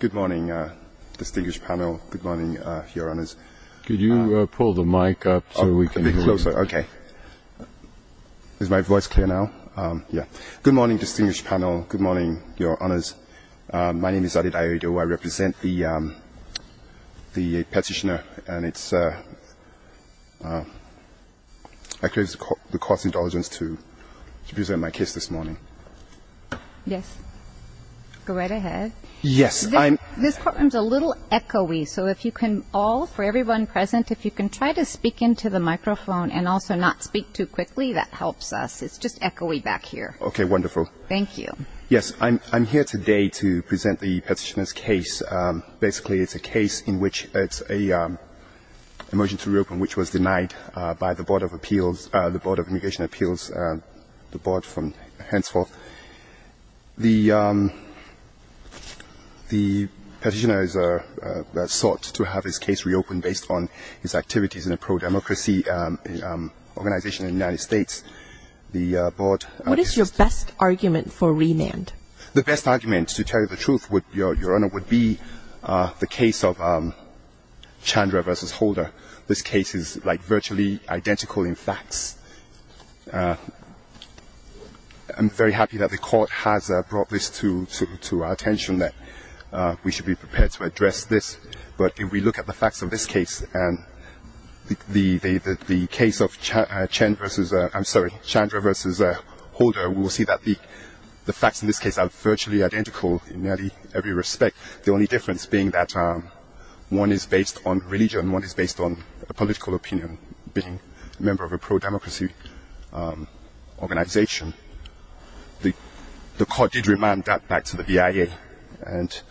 Good morning, distinguished panel. Good morning, Your Honours. Could you pull the mic up so we can hear you? A bit closer, okay. Is my voice clear now? Good morning, distinguished panel. Good morning, Your Honours. My name is Aded Ayoido. I represent the petitioner. And I crave the court's indulgence to present my case this morning. Yes, go right ahead. Yes, I'm... This courtroom's a little echoey, so if you can all, for everyone present, if you can try to speak into the microphone and also not speak too quickly, that helps us. It's just echoey back here. Okay, wonderful. Thank you. Yes, I'm here today to present the petitioner's case. Basically, it's a case in which it's a motion to reopen which was denied by the Board of Appeals, the Board of Immigration Appeals, the Board henceforth. The petitioner has sought to have his case reopened based on his activities in a pro-democracy organization in the United States. What is your best argument for remand? The best argument, to tell you the truth, Your Honour, would be the case of Chandra v. Holder. This case is, like, virtually identical in facts. I'm very happy that the court has brought this to our attention, that we should be prepared to address this. But if we look at the facts of this case and the case of Chandra v. Holder, we will see that the facts in this case are virtually identical in nearly every respect, the only difference being that one is based on religion and one is based on a political opinion, being a member of a pro-democracy organization. The court did remand that back to the VIA, and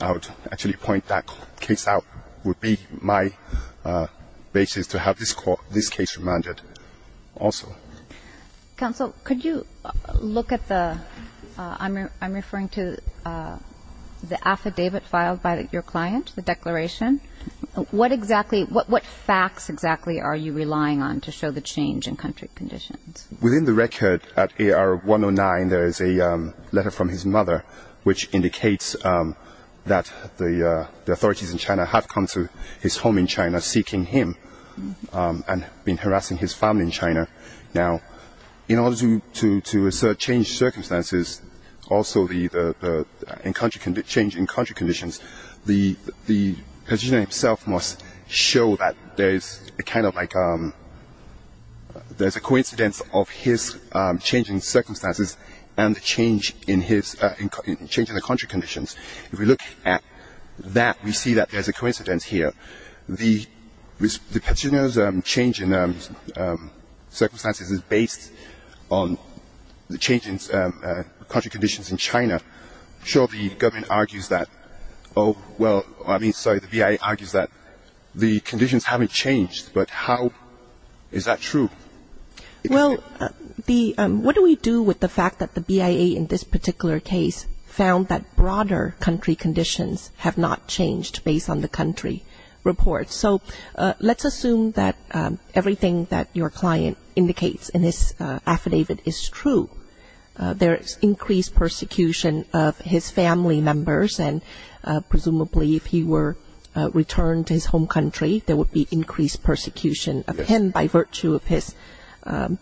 I would actually point that case out would be my basis to have this case remanded also. Counsel, could you look at the – I'm referring to the affidavit filed by your client, the declaration. What exactly – what facts exactly are you relying on to show the change in country conditions? Within the record, at AR 109, there is a letter from his mother, which indicates that the authorities in China have come to his home in China seeking him and been harassing his family in China. Now, in order to change circumstances, also the change in country conditions, the petitioner himself must show that there is a kind of like – there is a coincidence of his change in circumstances and the change in the country conditions. If we look at that, we see that there is a coincidence here. The petitioner's change in circumstances is based on the change in country conditions in China. I'm sure the government argues that – well, I mean, sorry, the VIA argues that the conditions haven't changed, but how is that true? Well, the – what do we do with the fact that the VIA in this particular case found that broader country conditions have not changed based on the country report? So let's assume that everything that your client indicates in this affidavit is true. There is increased persecution of his family members, and presumably if he were returned to his home country, there would be increased persecution of him by virtue of his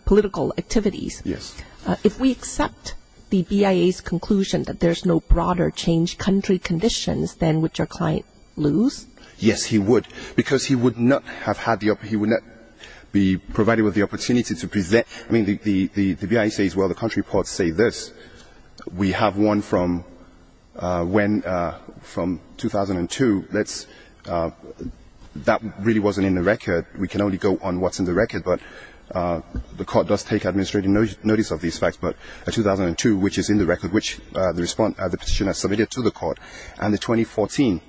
political activities. Yes. If we accept the VIA's conclusion that there's no broader change in country conditions, then would your client lose? Yes, he would, because he would not have had the – he would not be provided with the opportunity to present – I mean, the VIA says, well, the country reports say this. We have one from when – from 2002. Let's – that really wasn't in the record. We can only go on what's in the record, but the court does take administrative notice of these facts. But 2002, which is in the record, which the petitioner submitted to the court, and the 2014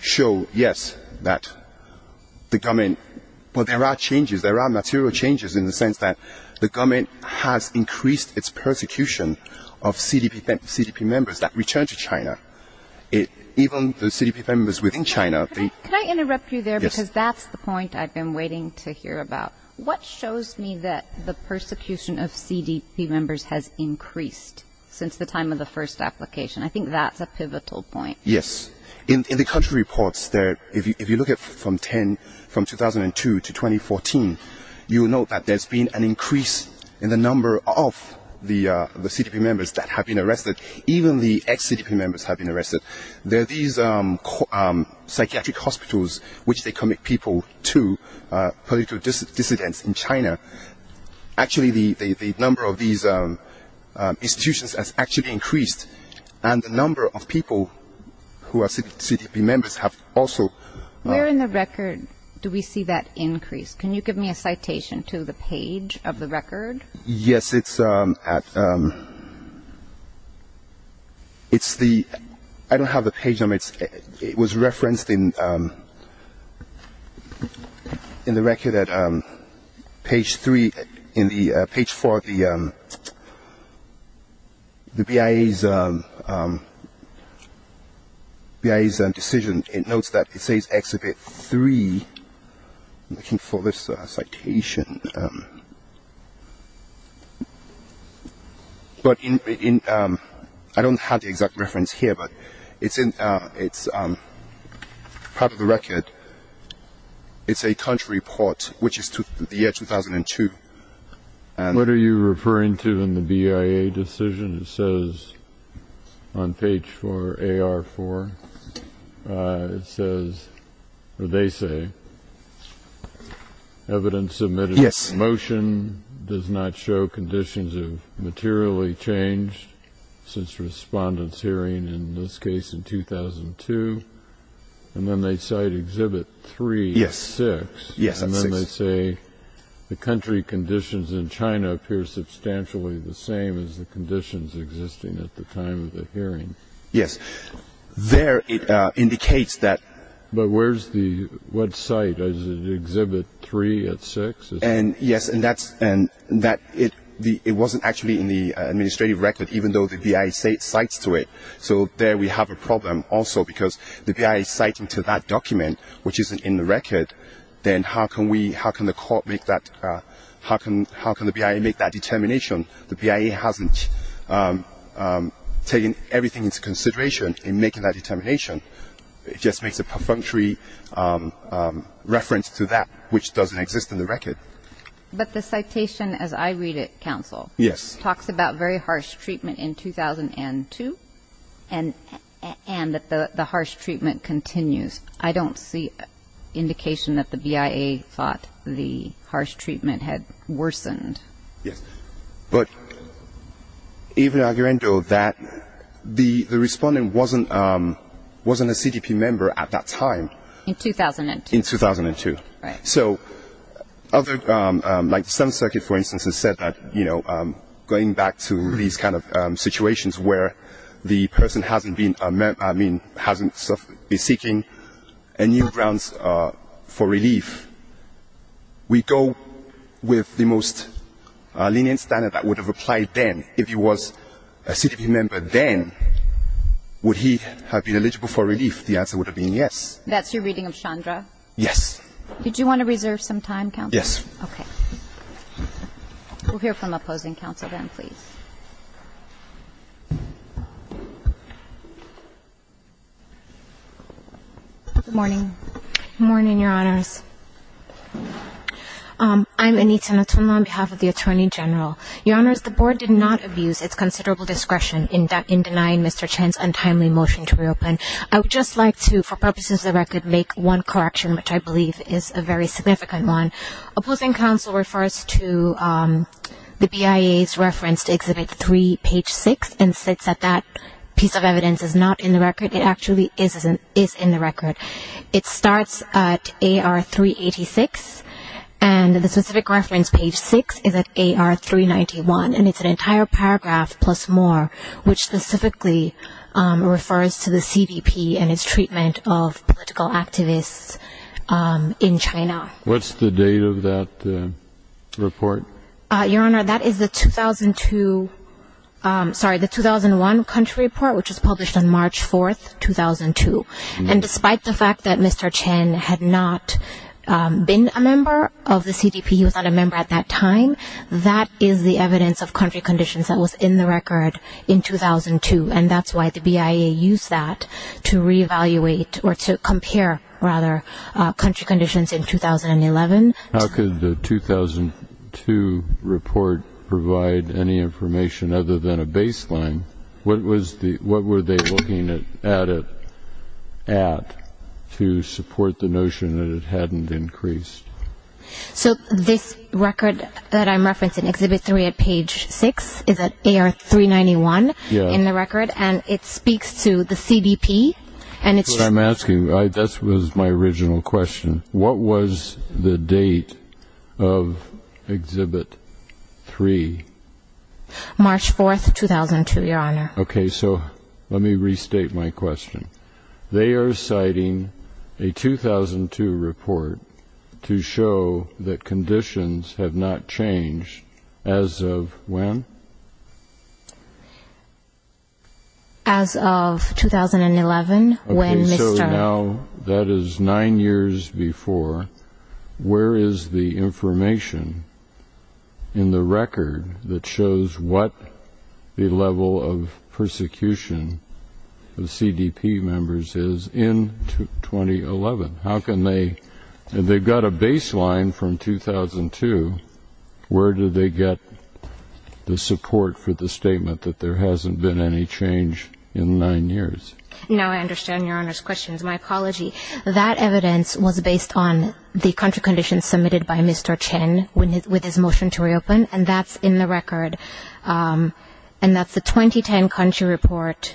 show, yes, that the government – well, there are changes, there are material changes in the sense that the government has increased its persecution of CDP members that return to China. Even the CDP members within China – Can I interrupt you there? Yes. Because that's the point I've been waiting to hear about. What shows me that the persecution of CDP members has increased since the time of the first application? I think that's a pivotal point. Yes. In the country reports, if you look at from 2002 to 2014, you'll note that there's been an increase in the number of the CDP members that have been arrested. Even the ex-CDP members have been arrested. There are these psychiatric hospitals which they commit people to, political dissidents in China. Actually, the number of these institutions has actually increased, and the number of people who are CDP members have also – Where in the record do we see that increase? Can you give me a citation to the page of the record? Yes, it's at – It's the – I don't have the page number. It was referenced in the record at page 3. In page 4, the BIA's decision, it notes that it says Exhibit 3. I'm looking for this citation. But in – I don't have the exact reference here, but it's part of the record. It's a country report, which is the year 2002. What are you referring to in the BIA decision? It says on page 4, AR4, it says, or they say, Evidence submitted in motion does not show conditions of materially change since respondents hearing, in this case in 2002. And then they cite Exhibit 3 at 6. Yes, at 6. And then they say the country conditions in China appear substantially the same as the conditions existing at the time of the hearing. Yes. There it indicates that – But where's the – what cite? Is it Exhibit 3 at 6? Yes, and that's – it wasn't actually in the administrative record, even though the BIA cites to it. So there we have a problem also because the BIA is citing to that document, which isn't in the record, then how can we – how can the court make that – how can the BIA make that determination? The BIA hasn't taken everything into consideration in making that determination. It just makes a perfunctory reference to that, which doesn't exist in the record. But the citation, as I read it, counsel, talks about very harsh treatment in 2002 and that the harsh treatment continues. I don't see indication that the BIA thought the harsh treatment had worsened. Yes. But even arguing that the respondent wasn't a CDP member at that time. In 2002. In 2002. Right. So other – like the Seventh Circuit, for instance, has said that going back to these kind of situations where the person hasn't been – I mean, hasn't been seeking a new grounds for relief, we go with the most lenient standard that would have applied then. If he was a CDP member then, would he have been eligible for relief? The answer would have been yes. That's your reading of Chandra? Yes. Did you want to reserve some time, counsel? Yes. Okay. We'll hear from opposing counsel then, please. Good morning. Good morning, Your Honors. I'm Anita Natumah on behalf of the Attorney General. Your Honors, the Board did not abuse its considerable discretion in denying Mr. Chen's untimely motion to reopen. I would just like to, for purposes of the record, make one correction, which I believe is a very significant one. Opposing counsel refers to the BIA's reference to Exhibit 3, Page 6, and states that that piece of evidence is not in the record. It actually is in the record. It starts at AR 386, and the specific reference, Page 6, is at AR 391, and it's an entire paragraph plus more, which specifically refers to the CDP and its treatment of political activists in China. What's the date of that report? Your Honor, that is the 2002 – sorry, the 2001 country report, which was published on March 4, 2002. And despite the fact that Mr. Chen had not been a member of the CDP, he was not a member at that time, that is the evidence of country conditions that was in the record in 2002, and that's why the BIA used that to reevaluate or to compare, rather, country conditions in 2011. How could the 2002 report provide any information other than a baseline? What were they looking at it at to support the notion that it hadn't increased? So this record that I'm referencing, Exhibit 3 at Page 6, is at AR 391. Yes. In the record, and it speaks to the CDP. That's what I'm asking. This was my original question. What was the date of Exhibit 3? March 4, 2002, Your Honor. Okay. So let me restate my question. They are citing a 2002 report to show that conditions have not changed. As of when? As of 2011, when Mr. Okay, so now that is nine years before. Where is the information in the record that shows what the level of persecution of CDP members is in 2011? How can they? They've got a baseline from 2002. Where did they get the support for the statement that there hasn't been any change in nine years? Now I understand Your Honor's questions. My apology. That evidence was based on the country conditions submitted by Mr. Chen with his motion to reopen, and that's in the record. And that's the 2010 country report,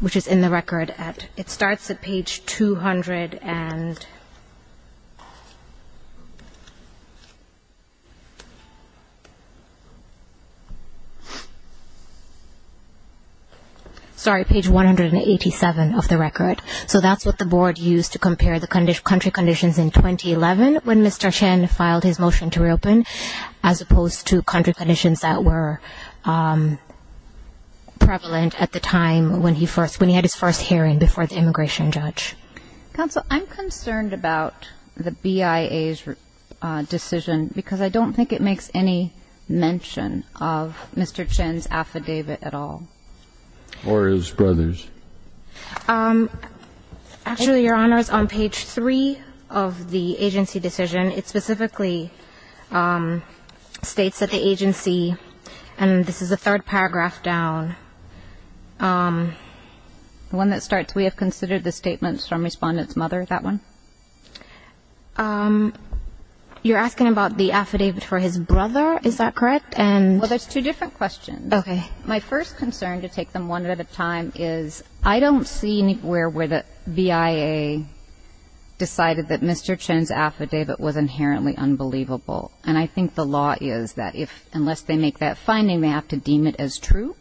which is in the record. That's what the board used to compare the country conditions in 2011 when Mr. Chen filed his motion to reopen, as opposed to country conditions that were prevalent at the time when he had his first hearing before the immigration judge. Counsel, I'm concerned about the BIA's decision because I don't think it makes any mention of Mr. Chen's affidavit at all. Or his brother's. Actually, Your Honor, it's on page three of the agency decision. It specifically states that the agency, and this is the third paragraph down, the one that starts, we have considered the statements from Respondent's mother, that one. You're asking about the affidavit for his brother. Is that correct? Well, there's two different questions. Okay. My first concern, to take them one at a time, is I don't see anywhere where the BIA decided that Mr. Chen's affidavit was inherently unbelievable. And I think the law is that unless they make that finding, they have to deem it as true,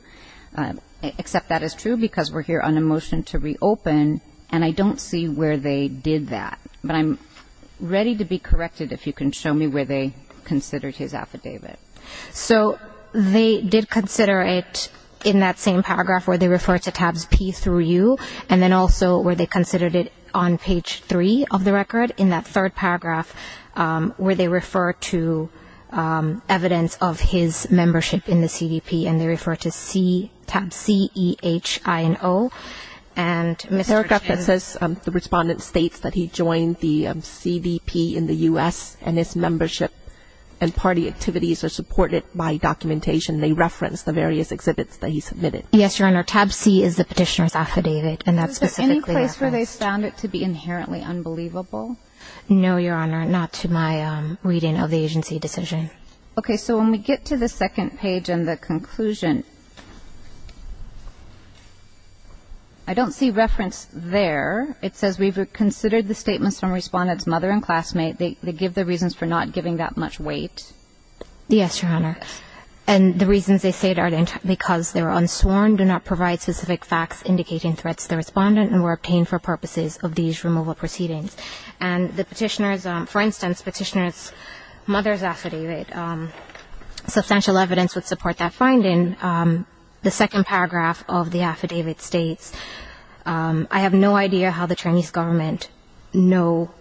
except that is true because we're here on a motion to reopen, and I don't see where they did that. But I'm ready to be corrected if you can show me where they considered his affidavit. So they did consider it in that same paragraph where they refer to tabs P through U, and then also where they considered it on page three of the record, in that third paragraph, where they refer to evidence of his membership in the CVP, and they refer to tab C, E, H, I, and O. And Mr. Chen. It says the respondent states that he joined the CVP in the U.S., and his membership and party activities are supported by documentation. They reference the various exhibits that he submitted. Yes, Your Honor. Tab C is the petitioner's affidavit, and that's specifically referenced. Is there any place where they found it to be inherently unbelievable? No, Your Honor, not to my reading of the agency decision. Okay. So when we get to the second page and the conclusion, I don't see reference there. It says we've considered the statements from respondent's mother and classmate. They give the reasons for not giving that much weight. Yes, Your Honor. And the reasons they say it are because they were unsworn, do not provide specific facts indicating threats to the respondent, and were obtained for purposes of these removal proceedings. And the petitioner's, for instance, petitioner's mother's affidavit, substantial evidence would support that finding. The second paragraph of the affidavit states, I have no idea how the Chinese government know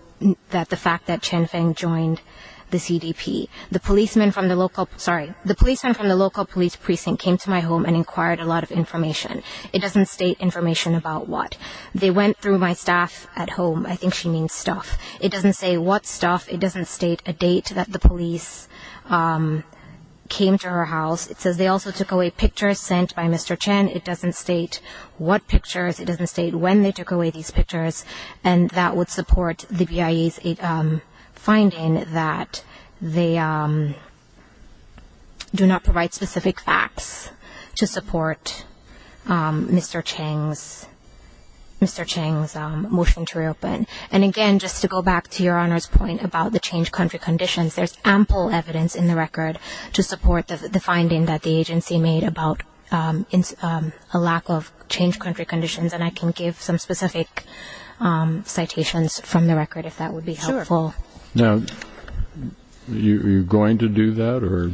that the fact that Chen Feng joined the CDP. The policeman from the local police precinct came to my home and inquired a lot of information. It doesn't state information about what. They went through my staff at home. I think she means stuff. It doesn't say what stuff. It doesn't state a date that the police came to her house. It says they also took away pictures sent by Mr. Chen. It doesn't state what pictures. It doesn't state when they took away these pictures. And that would support the BIE's finding that they do not provide specific facts to support Mr. Cheng's motion to reopen. And, again, just to go back to Your Honor's point about the changed country conditions, there's ample evidence in the record to support the finding that the agency made about a lack of changed country conditions. And I can give some specific citations from the record if that would be helpful. Now, are you going to do that or?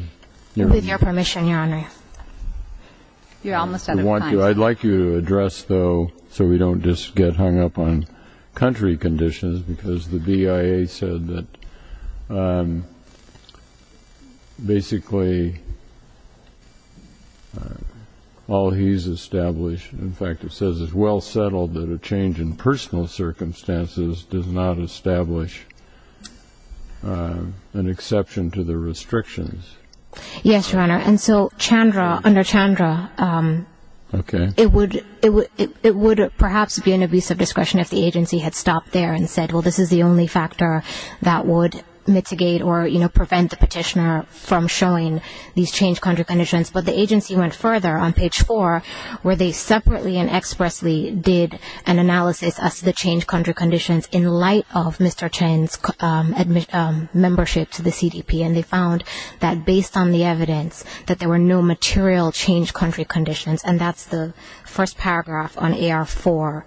With your permission, Your Honor. You're almost out of time. I'd like you to address, though, so we don't just get hung up on country conditions, because the BIA said that basically all he's established, in fact, it says it's well settled that a change in personal circumstances does not establish an exception to the restrictions. Yes, Your Honor. And so Chandra, under Chandra, it would perhaps be an abuse of discretion if the agency had stopped there and said, well, this is the only factor that would mitigate or, you know, prevent the petitioner from showing these changed country conditions. But the agency went further on page four where they separately and expressly did an analysis as to the changed country conditions in light of Mr. Chen's membership to the CDP. And they found that based on the evidence that there were no material changed country conditions, and that's the first paragraph on AR4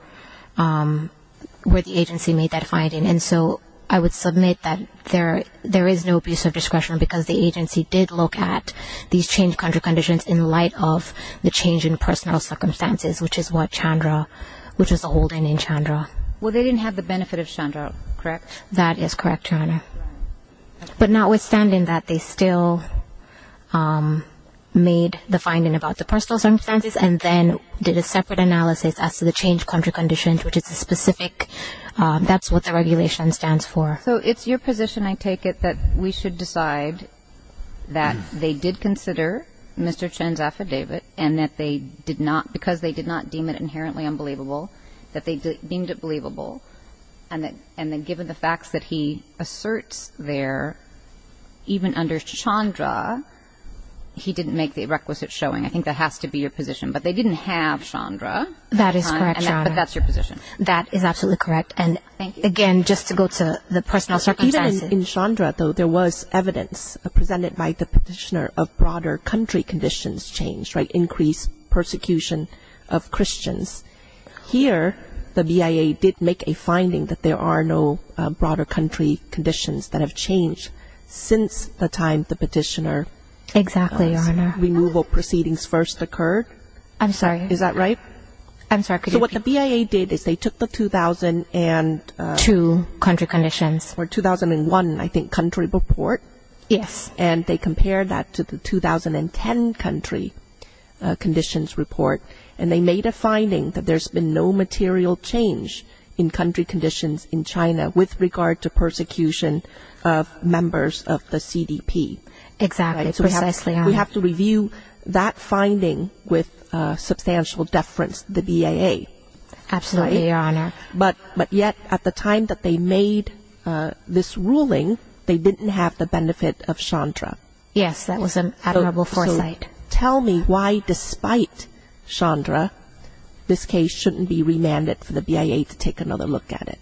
where the agency made that finding. And so I would submit that there is no abuse of discretion because the agency did look at these changed country conditions in light of the change in personal circumstances, which is what Chandra, which is the holding in Chandra. Well, they didn't have the benefit of Chandra, correct? That is correct, Your Honor. But notwithstanding that, they still made the finding about the personal circumstances and then did a separate analysis as to the changed country conditions, which is a specific, that's what the regulation stands for. So it's your position, I take it, that we should decide that they did consider Mr. Chen's affidavit and that they did not, because they did not deem it inherently unbelievable, that they deemed it believable, and that given the facts that he asserts there, even under Chandra, he didn't make the requisite showing. I think that has to be your position. But they didn't have Chandra. That is correct, Your Honor. But that's your position. That is absolutely correct. And again, just to go to the personal circumstances. Even in Chandra, though, there was evidence presented by the petitioner of broader country conditions changed, increased persecution of Christians. Here, the BIA did make a finding that there are no broader country conditions that have changed since the time the petitioner's removal proceedings first occurred. I'm sorry. Is that right? I'm sorry. So what the BIA did is they took the 2000 and... Two country conditions. 2001, I think, country report. Yes. And they compared that to the 2010 country conditions report, and they made a finding that there's been no material change in country conditions in China with regard to persecution of members of the CDP. Exactly. Precisely. We have to review that finding with substantial deference to the BIA. Absolutely, Your Honor. But yet, at the time that they made this ruling, they didn't have the benefit of Chandra. Yes, that was an admirable foresight. Tell me why, despite Chandra, this case shouldn't be remanded for the BIA to take another look at it.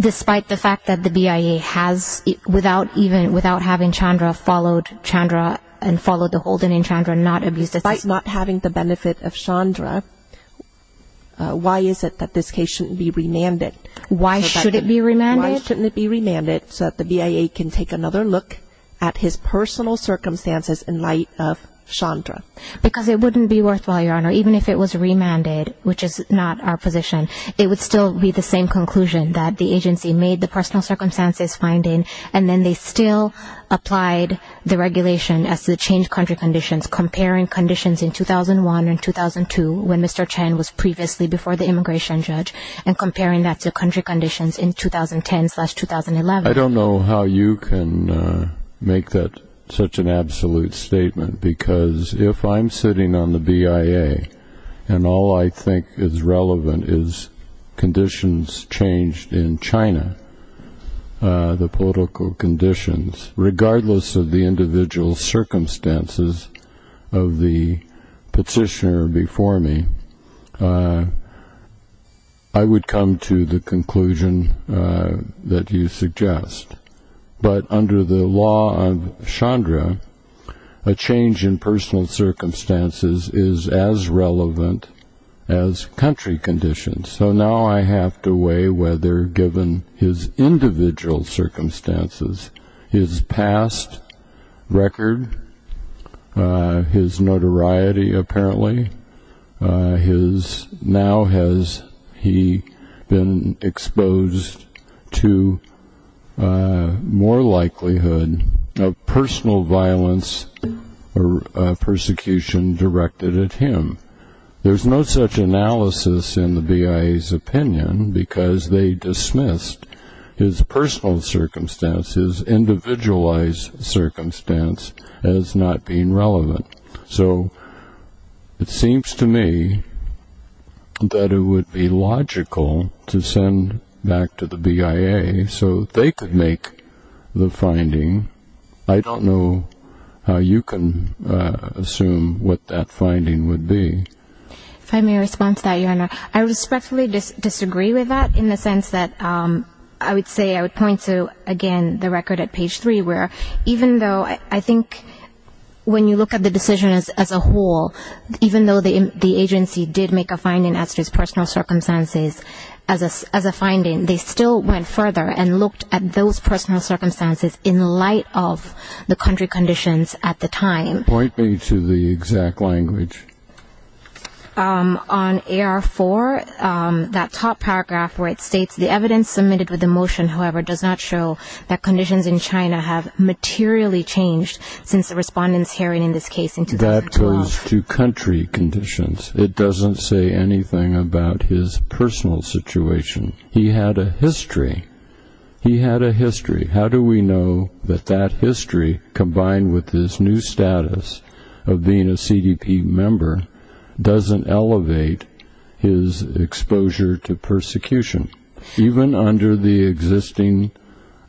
Despite the fact that the BIA has, without even having Chandra followed Chandra and followed the holding in Chandra and not abused it... Despite not having the benefit of Chandra, why is it that this case shouldn't be remanded? Why should it be remanded? Why shouldn't it be remanded so that the BIA can take another look at his personal circumstances in light of Chandra? Because it wouldn't be worthwhile, Your Honor, even if it was remanded, which is not our position. It would still be the same conclusion that the agency made the personal circumstances finding and then they still applied the regulation as to the changed country conditions, comparing conditions in 2001 and 2002 when Mr. Chen was previously before the immigration judge and comparing that to country conditions in 2010-2011. I don't know how you can make that such an absolute statement because if I'm sitting on the BIA and all I think is relevant is conditions changed in China, the political conditions, regardless of the individual circumstances of the petitioner before me, I would come to the conclusion that you suggest. But under the law of Chandra, a change in personal circumstances is as relevant as country conditions. So now I have to weigh whether given his individual circumstances, his past record, his notoriety apparently, now has he been exposed to more likelihood of personal violence or persecution directed at him. There's no such analysis in the BIA's opinion because they dismissed his personal circumstances, his individualized circumstance as not being relevant. So it seems to me that it would be logical to send back to the BIA so they could make the finding. I don't know how you can assume what that finding would be. If I may respond to that, Your Honor, I respectfully disagree with that in the sense that I would say, I would point to, again, the record at page 3 where even though I think when you look at the decision as a whole, even though the agency did make a finding as to his personal circumstances as a finding, they still went further and looked at those personal circumstances in light of the country conditions at the time. Point me to the exact language. On AR4, that top paragraph where it states, the evidence submitted with the motion, however, does not show that conditions in China have materially changed since the respondents hearing in this case in 2012. That goes to country conditions. It doesn't say anything about his personal situation. He had a history. He had a history. How do we know that that history, combined with his new status of being a CDP member, doesn't elevate his exposure to persecution, even under the existing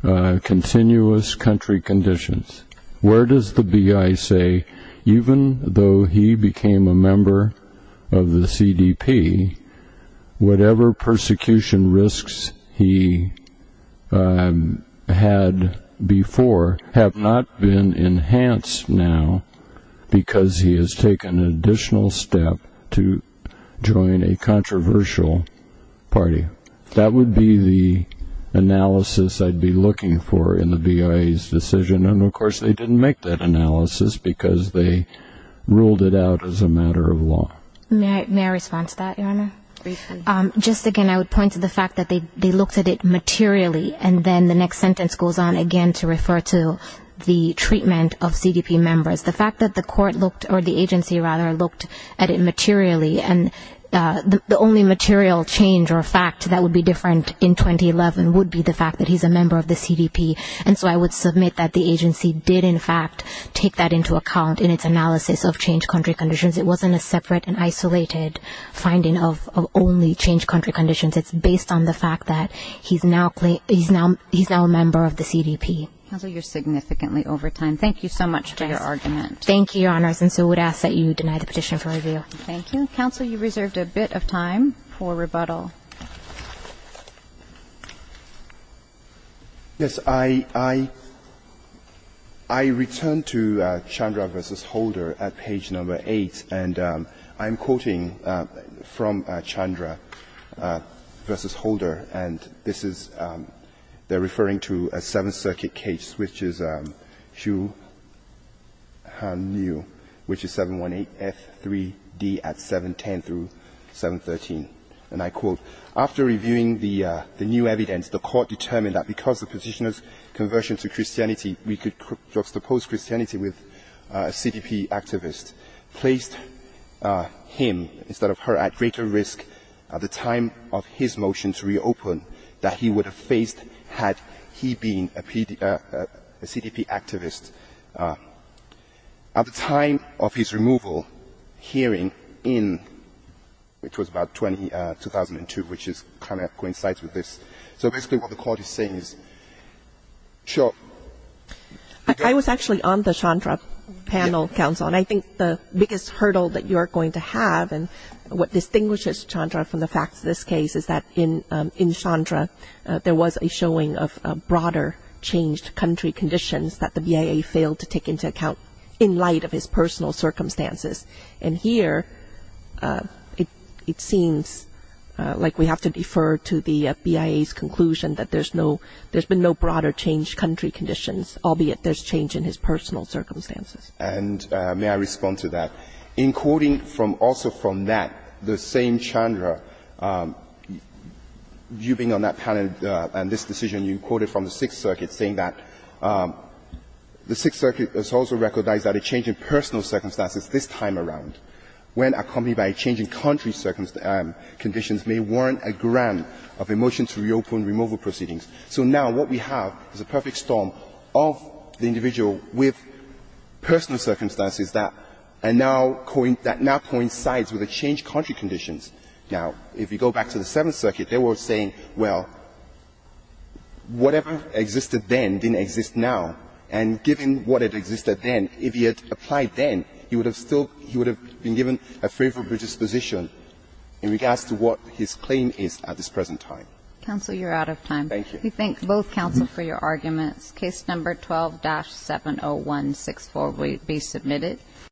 continuous country conditions? Where does the BI say, even though he became a member of the CDP, whatever persecution risks he had before have not been enhanced now because he has taken an additional step to join a controversial party? That would be the analysis I'd be looking for in the BI's decision. And, of course, they didn't make that analysis because they ruled it out as a matter of law. May I respond to that, Your Honor? Briefly. Just again, I would point to the fact that they looked at it materially, and then the next sentence goes on again to refer to the treatment of CDP members. The fact that the agency looked at it materially, and the only material change or fact that would be different in 2011 would be the fact that he's a member of the CDP. And so I would submit that the agency did, in fact, take that into account in its analysis of changed country conditions. It wasn't a separate and isolated finding of only changed country conditions. It's based on the fact that he's now a member of the CDP. Counsel, you're significantly over time. Thank you so much for your argument. Thank you, Your Honors. And so I would ask that you deny the petition for review. Thank you. Counsel, you reserved a bit of time for rebuttal. Yes. I returned to Chandra v. Holder at page number 8, and I'm quoting from Chandra v. Holder, and this is they're referring to a Seventh Circuit case, which is Hsu Han Liu, which is 718F3D at 710 through 713. And I quote, after reviewing the new evidence, the court determined that because the petitioner's conversion to Christianity, we could juxtapose Christianity with a CDP activist, placed him instead of her at greater risk at the time of his motion to reopen that he would have faced had he been a CDP activist. At the time of his removal, hearing in, which was about 2002, which is kind of coincides with this. So basically what the court is saying is, sure. I was actually on the Chandra panel, Counsel, and I think the biggest hurdle that you are going to have and what distinguishes Chandra from the facts of this case is that in Chandra, there was a showing of broader changed country conditions that the V.A.A. failed to take into account in light of his personal circumstances. And here, it seems like we have to defer to the V.A.A.'s conclusion that there's no, there's been no broader changed country conditions, albeit there's change in his personal circumstances. And may I respond to that? In quoting from also from that, the same Chandra, you being on that panel and this decision, you quoted from the Sixth Circuit saying that the Sixth Circuit has also recognized that a change in personal circumstances this time around, when accompanied by a change in country conditions, may warrant a grant of a motion to reopen removal proceedings. So now what we have is a perfect storm of the individual with personal circumstances that are now coincides with the changed country conditions. Now, if you go back to the Seventh Circuit, they were saying, well, whatever existed then didn't exist now. And given what had existed then, if he had applied then, he would have still, he would have been given a favorable disposition in regards to what his claim is at this present time. Counsel, you're out of time. Thank you. We thank both counsel for your arguments. Case No. 12-70164 will be submitted.